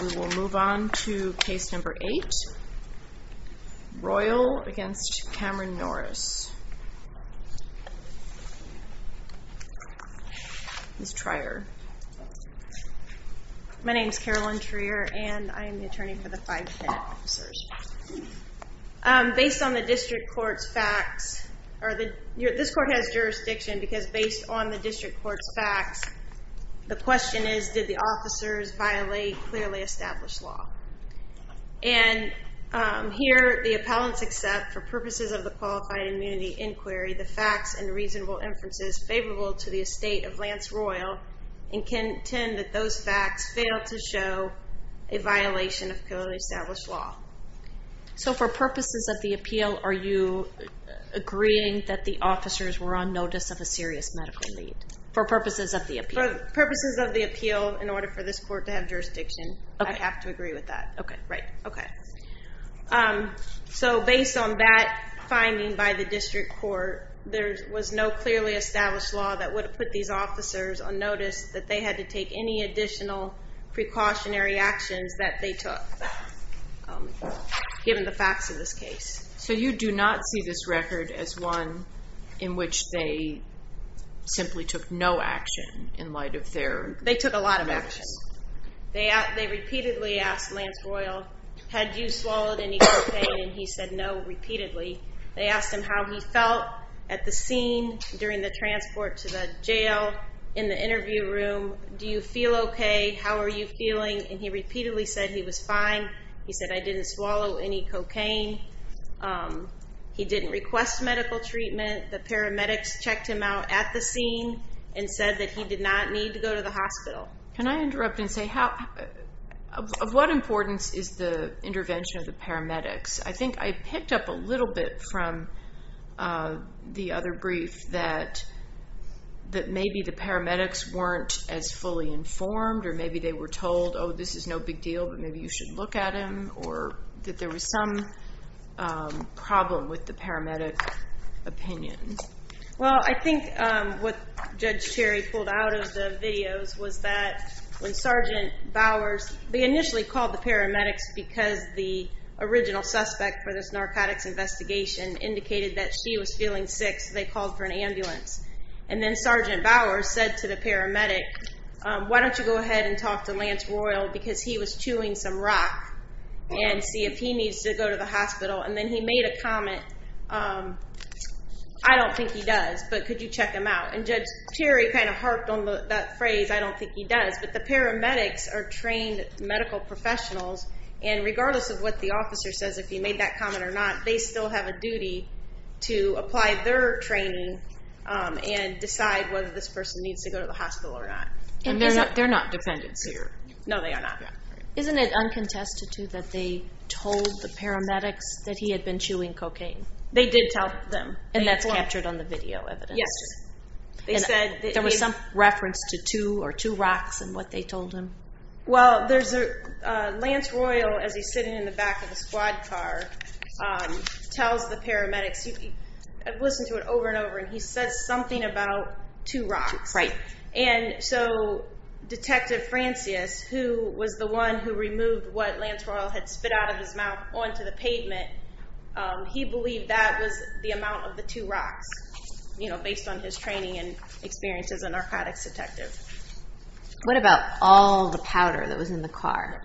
We will move on to case number 8, Royal v. Cameron Norris, Ms. Trier. My name is Carolyn Trier and I am the attorney for the five penitent officers. Based on the district court's facts, this court has jurisdiction because based on the clearly established law and here the appellants accept for purposes of the qualified immunity inquiry the facts and reasonable inferences favorable to the estate of Lance Royal and contend that those facts fail to show a violation of clearly established law. So for purposes of the appeal are you agreeing that the officers were on notice of a serious medical need for purposes of the appeal? For purposes of the appeal, in order for this court to have jurisdiction, I have to agree with that. So based on that finding by the district court, there was no clearly established law that would have put these officers on notice that they had to take any additional precautionary actions that they took given the facts of this case. So you do not see this record as one in which they simply took no action in light of their facts. They took a lot of action. They repeatedly asked Lance Royal, had you swallowed any cocaine? He said no, repeatedly. They asked him how he felt at the scene during the transport to the jail in the interview room. Do you feel okay? How are you feeling? And he repeatedly said he was fine. He said I didn't swallow any cocaine. He didn't request medical treatment. The paramedics checked him out at the scene and said that he did not need to go to the hospital. Can I interrupt and say how of what importance is the intervention of the paramedics? I think I picked up a little bit from the other brief that that maybe the paramedics weren't as fully informed or maybe they were told oh this is no big deal but maybe you should look at him or that there was some problem with the paramedic opinion. Well I think what Judge Terry pulled out of the videos was that when Sergeant Bowers, they initially called the paramedics because the original suspect for this narcotics investigation indicated that she was feeling sick so they called for an ambulance and then Sergeant Bowers said to the paramedic why don't you go ahead and talk to Lance Royal because he was chewing some rock and see if he needs to go to the hospital and then he made a comment I don't think he does but could you check him out and Judge Terry kind of harped on that phrase I don't think he does but the paramedics are trained medical professionals and regardless of what the officer says if he made that comment or not they still have a duty to apply their training and decide whether this person needs to go to the hospital or not and they're not they're not dependents here. No they are not. Isn't it uncontested to that they told the paramedics that he had been chewing cocaine? They did tell them. And that's captured on the video evidence? Yes. They said there was some reference to two or two rocks and what they told him? Well there's a Lance Royal as he's sitting in the back of a squad car tells the paramedics, I've listened to it over and over and he says something about two and so Detective Francis who was the one who removed what Lance Royal had spit out of his mouth onto the pavement he believed that was the amount of the two rocks you know based on his training and experience as a narcotics detective. What about all the powder that was in the car?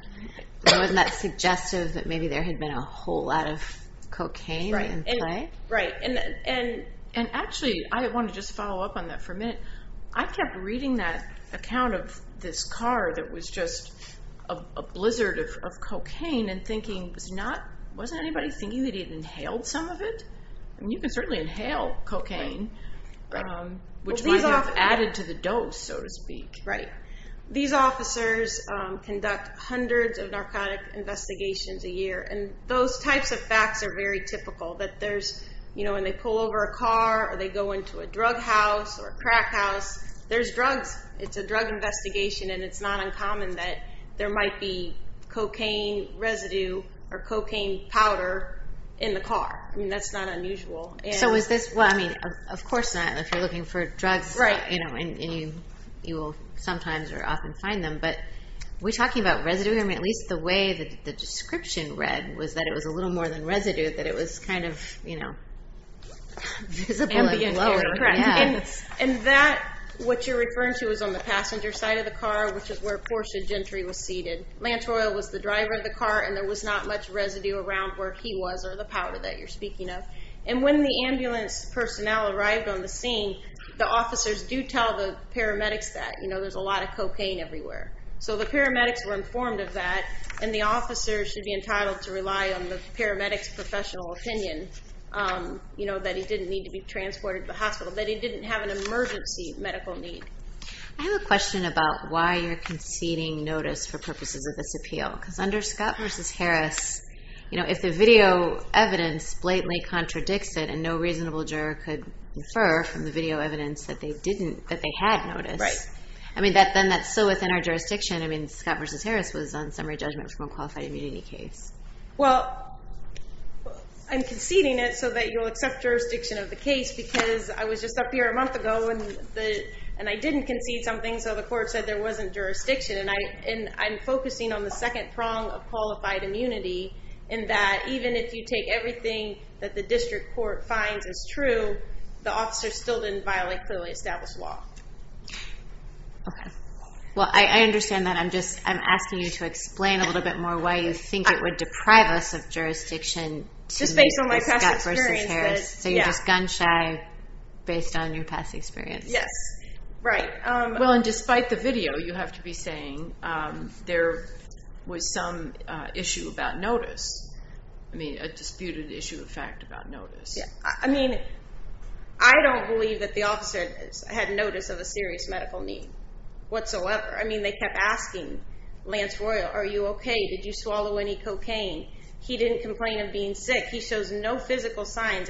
Wasn't that suggestive that maybe there had been a whole lot of cocaine in play? Right and actually I kept reading that account of this car that was just a blizzard of cocaine and thinking was not wasn't anybody thinking that he'd inhaled some of it? And you can certainly inhale cocaine which might have added to the dose so to speak. Right. These officers conduct hundreds of narcotic investigations a year and those types of facts are very typical that there's you know when they pull over a drug house or crack house there's drugs it's a drug investigation and it's not uncommon that there might be cocaine residue or cocaine powder in the car I mean that's not unusual. So is this well I mean of course not if you're looking for drugs right you know and you you will sometimes or often find them but we talking about residue I mean at least the way that the description read was that it was a little more than residue that it was kind of you know and that what you're referring to is on the passenger side of the car which is where Portia Gentry was seated. Lance Royal was the driver of the car and there was not much residue around where he was or the powder that you're speaking of and when the ambulance personnel arrived on the scene the officers do tell the paramedics that you know there's a lot of cocaine everywhere so the paramedics were informed of that and the officers should be entitled to rely on the paramedics professional opinion you know that he didn't need to be transported to the hospital that he didn't have an emergency medical need. I have a question about why you're conceding notice for purposes of this appeal because under Scott versus Harris you know if the video evidence blatantly contradicts it and no reasonable juror could infer from the video evidence that they didn't that they had noticed right I mean that then that's so within our jurisdiction I mean Scott versus Harris was on summary judgment from a qualified immunity case. Well I'm conceding it so that you'll accept jurisdiction of the case because I was just up here a month ago and the and I didn't concede something so the court said there wasn't jurisdiction and I and I'm focusing on the second prong of qualified immunity in that even if you take everything that the district court finds is true the officer still didn't violate clearly established law. Okay well I understand that I'm just I'm asking you to explain a little bit more why you think it would deprive us of jurisdiction just based on my past experience so you're just gun-shy based on your past experience. Yes right well and despite the video you have to be saying there was some issue about notice I mean a disputed issue of fact about notice. Yeah I mean I don't believe that the officer had notice of a serious medical need whatsoever I mean they kept asking Lance Royal are you okay did you swallow any cocaine he didn't complain of being sick he shows no physical signs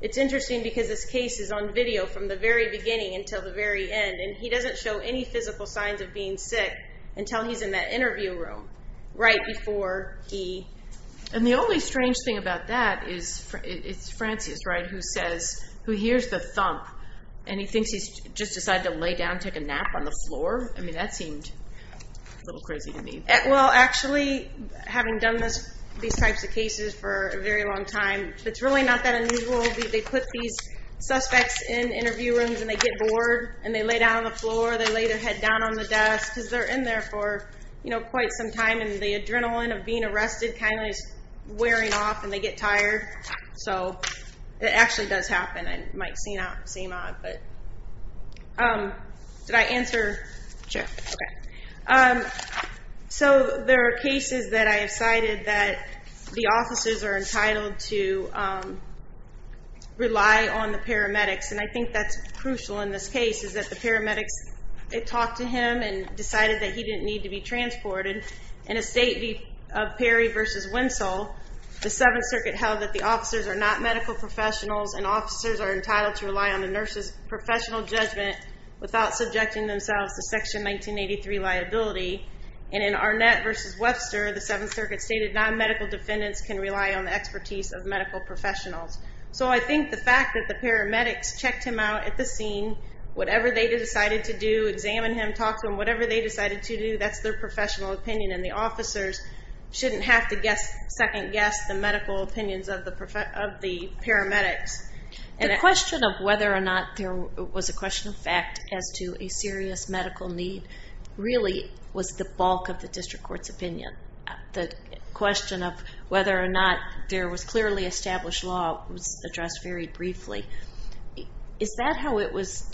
it's interesting because this case is on video from the very beginning until the very end and he doesn't show any physical signs of being sick until he's in that interview room right before he and the only strange thing about that is it's Francis right who says who hears the thump and he thinks he's just decided to lay down take a nap on the floor I mean that seemed a little crazy to me. Well actually having done this these types of cases for a very long time it's really not that unusual they put these suspects in interview rooms and they get bored and they lay down on the floor they lay their head down on the desk because they're in there for you know quite some time and the adrenaline of being arrested kind of wearing off and they get tired so it actually does happen I might see not seem odd but did I answer sure okay so there are cases that I have cited that the officers are entitled to rely on the paramedics and I think that's crucial in this case is that the paramedics it talked to him and decided that he didn't need to be transported in a state of Perry versus Winslow the Seventh Circuit held that the officers are not medical professionals and officers are entitled to rely on the nurses professional judgment without subjecting themselves to section 1983 liability and in Arnett versus Webster the Seventh Circuit stated non-medical defendants can rely on the expertise of medical professionals so I think the fact that the paramedics checked him out at the scene whatever they decided to do examine him talk to him whatever they decided to do that's their professional opinion and the officers shouldn't have to guess second-guess the medical opinions of the professor of the paramedics and a question of whether or not there was a question of fact as to a serious medical need really was the bulk of the district courts opinion the question of whether or not there was clearly established law was addressed very briefly is that how it was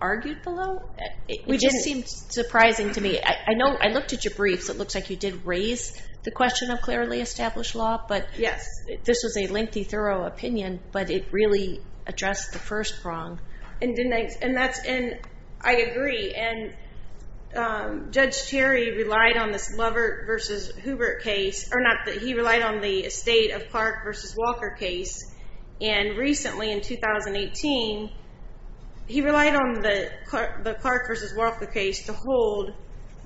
argued below we just seemed surprising to me I know I looked at your briefs it looks like you did raise the question of clearly established law but yes this was a lengthy thorough opinion but it really addressed the first prong and didn't and that's in I agree and Judge Terry relied on this lover versus Hoover case or not that he relied on the estate of Clark versus Walker case and recently in 2018 he relied on the the Clark versus Walker case to hold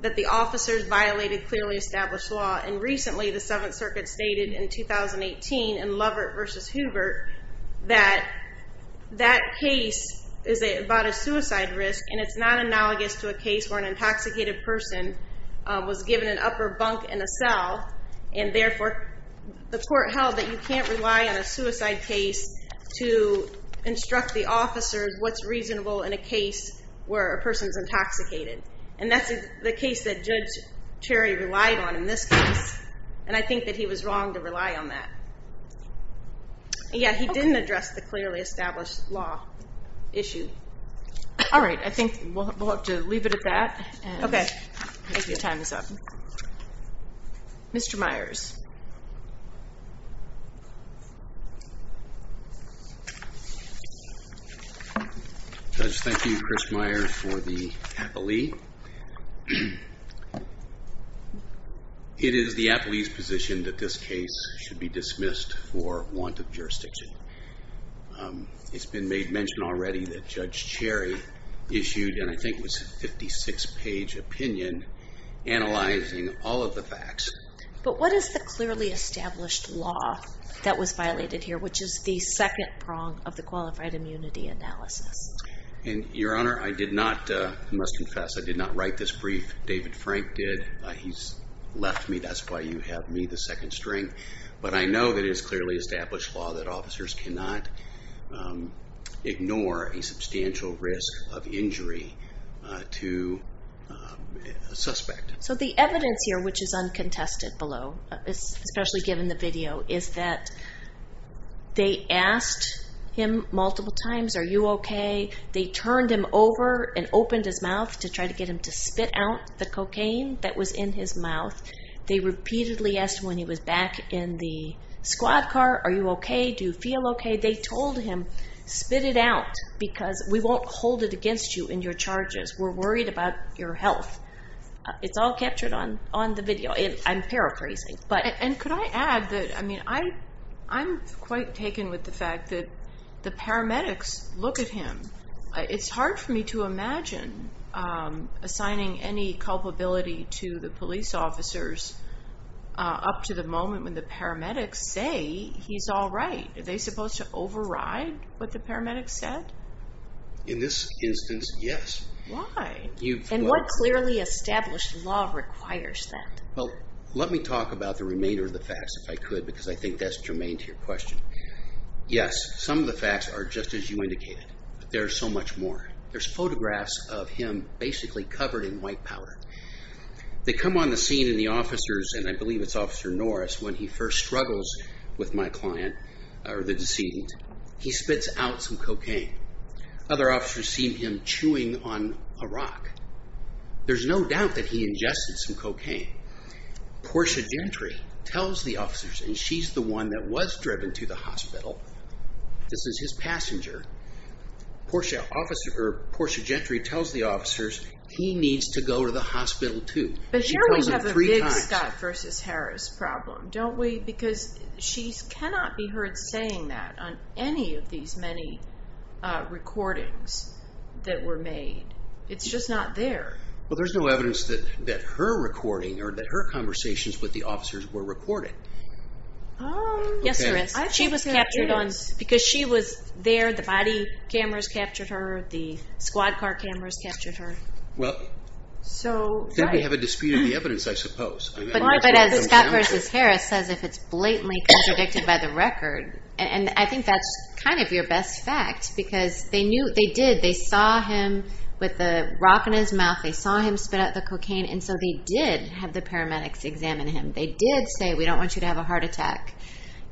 that the officers violated clearly established law and recently the Seventh Circuit stated in 2018 and Lovett versus Hoover that that case is about a suicide risk and it's not analogous to a case where an intoxicated person was given an upper bunk in a cell and therefore the court held that you can't rely on a suicide case to instruct the officers what's reasonable in a case where a person's intoxicated and that's the case that Judge Terry relied on in this case and I think that he was wrong to rely on that yeah he didn't address the clearly established law issue alright I think we'll have to leave it at that okay thank you time is up mr. Myers thank you Chris Meyer for the happily it is the a police position that this case should be dismissed for want of jurisdiction it's been made mention already that judge cherry issued and I think was 56 page opinion analyzing all of the facts but what is the clearly established law that was violated here which is the second prong of the qualified immunity analysis and your honor I did not must confess I did not write this brief David Frank did he's left me that's why you have me the second string but I know that is clearly established law that officers cannot ignore a substantial risk of injury to suspect so the evidence here which is uncontested below it's especially given the video is that they asked him multiple times are you okay they turned him over and opened his mouth to try to get him to spit out the cocaine that was in his mouth they repeatedly asked when he was back in the squad car are you okay do you feel okay they told him spit it out because we won't hold it against you in your charges we're worried about your health it's all captured on on the video and I'm paraphrasing but and could I add that I mean I I'm quite taken with the fact that the paramedics look at him it's hard for me to imagine assigning any culpability to the police officers up to the moment when the paramedics say he's all right are they supposed to override what the paramedics said in this instance yes why you and what clearly established law requires that well let me talk about the remainder of the facts if I could because I think that's germane to your question yes some of the facts are just as you indicated there's so much more there's photographs of him basically covered in white powder they come on the scene in the officers and I believe it's officer Norris when he first struggles with my client or the decedent he spits out some cocaine other officers seen him chewing on a rock there's no doubt that he ingested some cocaine Portia Gentry tells the officers and she's the one that was driven to the hospital this is his passenger Portia officer or Portia tells the officers he needs to go to the hospital to but here we have a big Scott versus Harris problem don't we because she's cannot be heard saying that on any of these many recordings that were made it's just not there well there's no evidence that that her recording or that her conversations with the officers were recorded yes she was captured on because she was there the body cameras captured her the squad car cameras captured her well so we have a dispute the evidence I suppose but as Scott versus Harris says if it's blatantly contradicted by the record and I think that's kind of your best fact because they knew they did they saw him with the rock in his mouth they saw him spit out the cocaine and so they did have the paramedics examine him they did say we don't want you to have a heart attack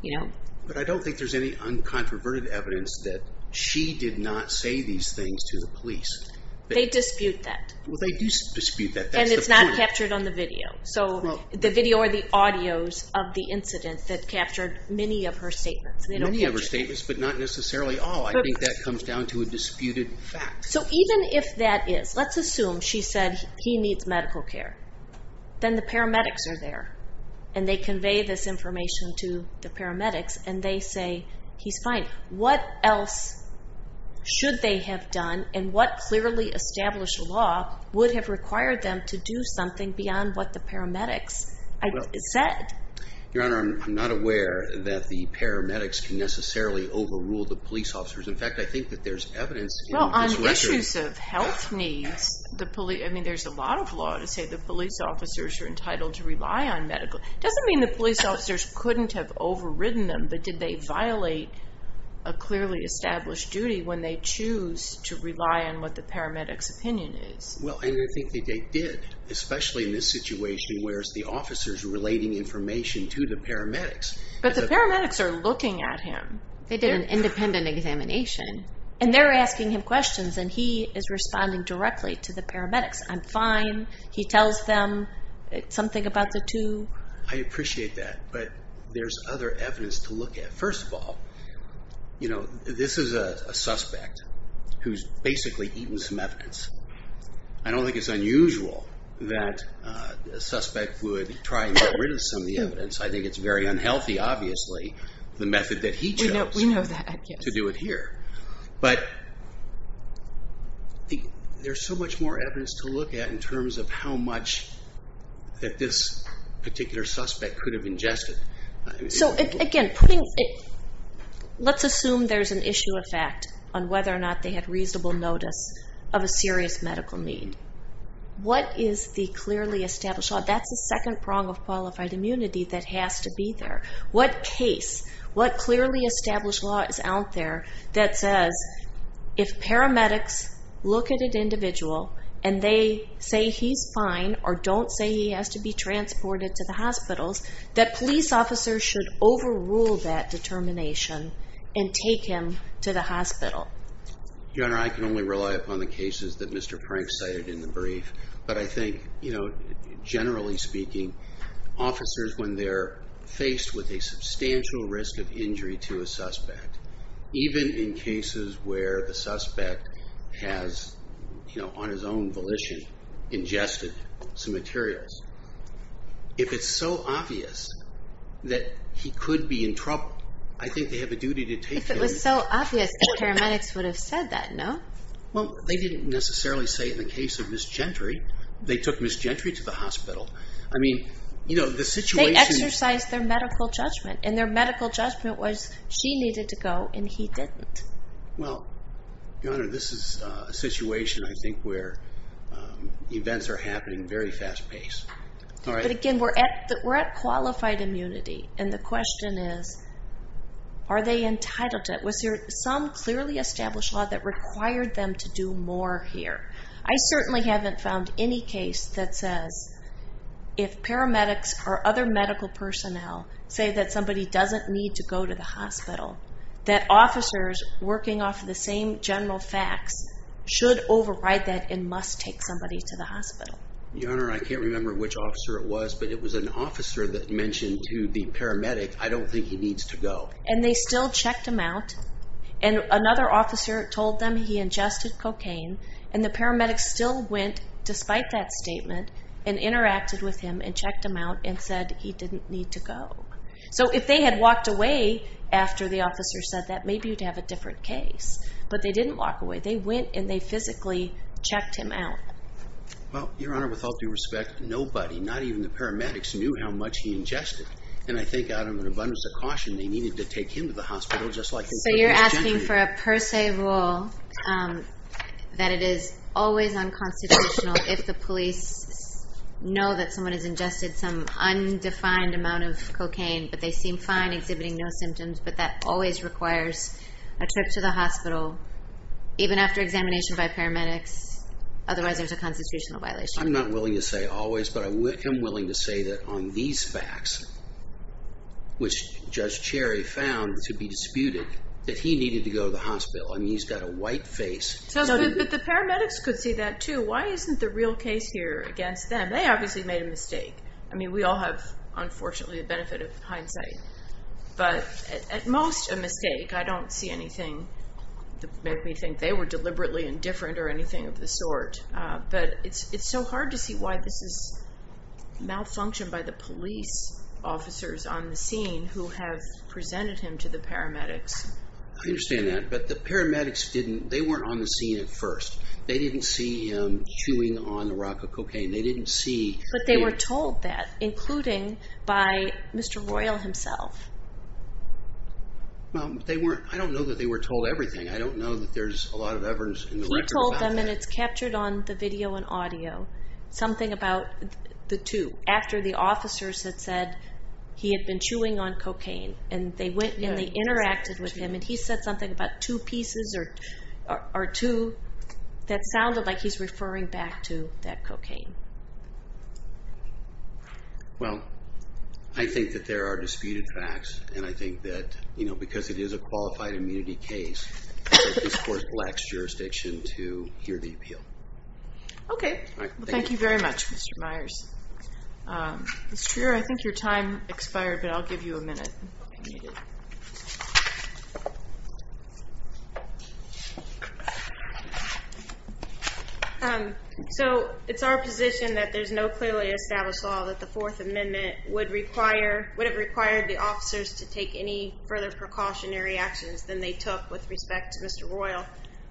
you know but I don't think there's any uncontroverted evidence that she did not say these things to the police they dispute that well they do dispute that and it's not captured on the video so the video or the audios of the incident that captured many of her statements many of her statements but not necessarily all I think that comes down to a disputed fact so even if that is let's assume she said he needs medical care then the paramedics are there and they convey this information to the paramedics and they say he's fine what else should they have done and what clearly established law would have required them to do something beyond what the paramedics said your honor I'm not aware that the paramedics can necessarily overrule the police officers in fact I think that there's evidence well on issues of health needs the police I mean there's a lot of law to say the police officers are entitled to rely on medical doesn't mean the police officers couldn't have overridden them but did they violate a clearly established duty when they choose to rely on what the paramedics opinion is well I think they did especially in this situation where's the officers relating information to the paramedics but the paramedics are looking at him they did an independent examination and they're asking him questions and he is responding directly to the paramedics I'm fine he tells them something about the two I appreciate that but there's other evidence to look at first of all you know this is a suspect who's basically eaten some evidence I don't think it's unusual that a suspect would try and get rid of some of the evidence I think it's very unhealthy obviously the method that he chose to do it here but there's so much more evidence to look at in terms of how much that this particular suspect could have ingested so again putting it let's assume there's an issue of fact on whether or not they had reasonable notice of a serious medical need what is the clearly established thought that's the second prong of qualified immunity that has to be there what case what clearly established law is out there that says if paramedics look at an individual and they say he's fine or don't say he has to be transported to the hospitals that police officers should overrule that determination and take him to the hospital your honor I can only rely upon the cases that Mr. Frank cited in the brief but I think you know generally speaking officers when they're faced with a substantial risk of injury to a suspect even in cases where the suspect has you materials if it's so obvious that he could be in trouble I think they have a duty to take it was so obvious paramedics would have said that no well they didn't necessarily say in the case of Miss Gentry they took Miss Gentry to the hospital I mean you know the situation exercise their medical judgment and their medical judgment was she needed to go and he didn't well this is a situation I think where events are happening very fast-paced but again we're at that we're at qualified immunity and the question is are they entitled to it was there some clearly established law that required them to do more here I certainly haven't found any case that says if paramedics or other medical personnel say that somebody doesn't need to go to the general facts should override that in must take somebody to the hospital your honor I can't remember which officer it was but it was an officer that mentioned to the paramedic I don't think he needs to go and they still checked him out and another officer told them he ingested cocaine and the paramedics still went despite that statement and interacted with him and checked him out and said he didn't need to go so if they had walked away after the officer said that maybe you'd have a different case but they didn't walk away they went and they physically checked him out well your honor with all due respect nobody not even the paramedics knew how much he ingested and I think out of an abundance of caution they needed to take him to the hospital just like so you're asking for a per se rule that it is always on constitutional if the police know that someone has ingested some undefined amount of cocaine but they seem fine exhibiting no symptoms but that always requires a trip to the hospital even after examination by paramedics otherwise there's a constitutional violation I'm not willing to say always but I'm willing to say that on these facts which Judge Cherry found to be disputed that he needed to go to the hospital I mean he's got a white face so the paramedics could see that too why isn't the real case here against them they obviously made a but at most a mistake I don't see anything to make me think they were deliberately indifferent or anything of the sort but it's it's so hard to see why this is malfunctioned by the police officers on the scene who have presented him to the paramedics I understand that but the paramedics didn't they weren't on the scene at first they didn't see him chewing on the rock of cocaine they didn't see but they were told that including by Mr. Royal himself well they weren't I don't know that they were told everything I don't know that there's a lot of evidence in the record he told them and it's captured on the video and audio something about the two after the officers had said he had been chewing on cocaine and they went and they interacted with him and he said something about two pieces or two that sounded like he's referring back to that well I think that there are disputed facts and I think that you know because it is a qualified immunity case this court lacks jurisdiction to hear the appeal okay thank you very much Mr. Myers Mr. I think your time expired but there's no clearly established law that the Fourth Amendment would require would have required the officers to take any further precautionary actions than they took with respect to Mr. Royal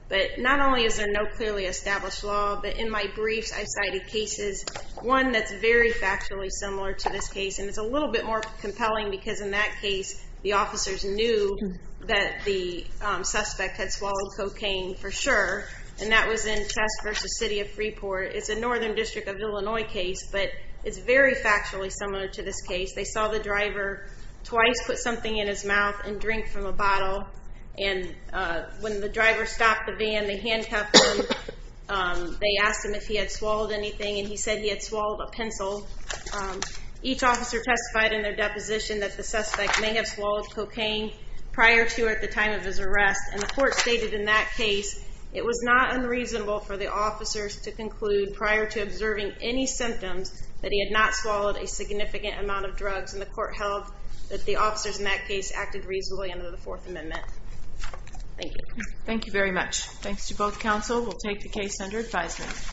but not only is there no clearly established law but in my briefs I cited cases one that's very factually similar to this case and it's a little bit more compelling because in that case the officers knew that the suspect had swallowed cocaine for sure and that was test versus City of Freeport it's a Northern District of Illinois case but it's very factually similar to this case they saw the driver twice put something in his mouth and drink from a bottle and when the driver stopped the van they handcuffed him they asked him if he had swallowed anything and he said he had swallowed a pencil each officer testified in their deposition that the suspect may have swallowed cocaine prior to or at the time of his arrest and the reasonable for the officers to conclude prior to observing any symptoms that he had not swallowed a significant amount of drugs and the court held that the officers in that case acted reasonably under the Fourth Amendment thank you thank you very much thanks to both counsel we'll take the case under advisement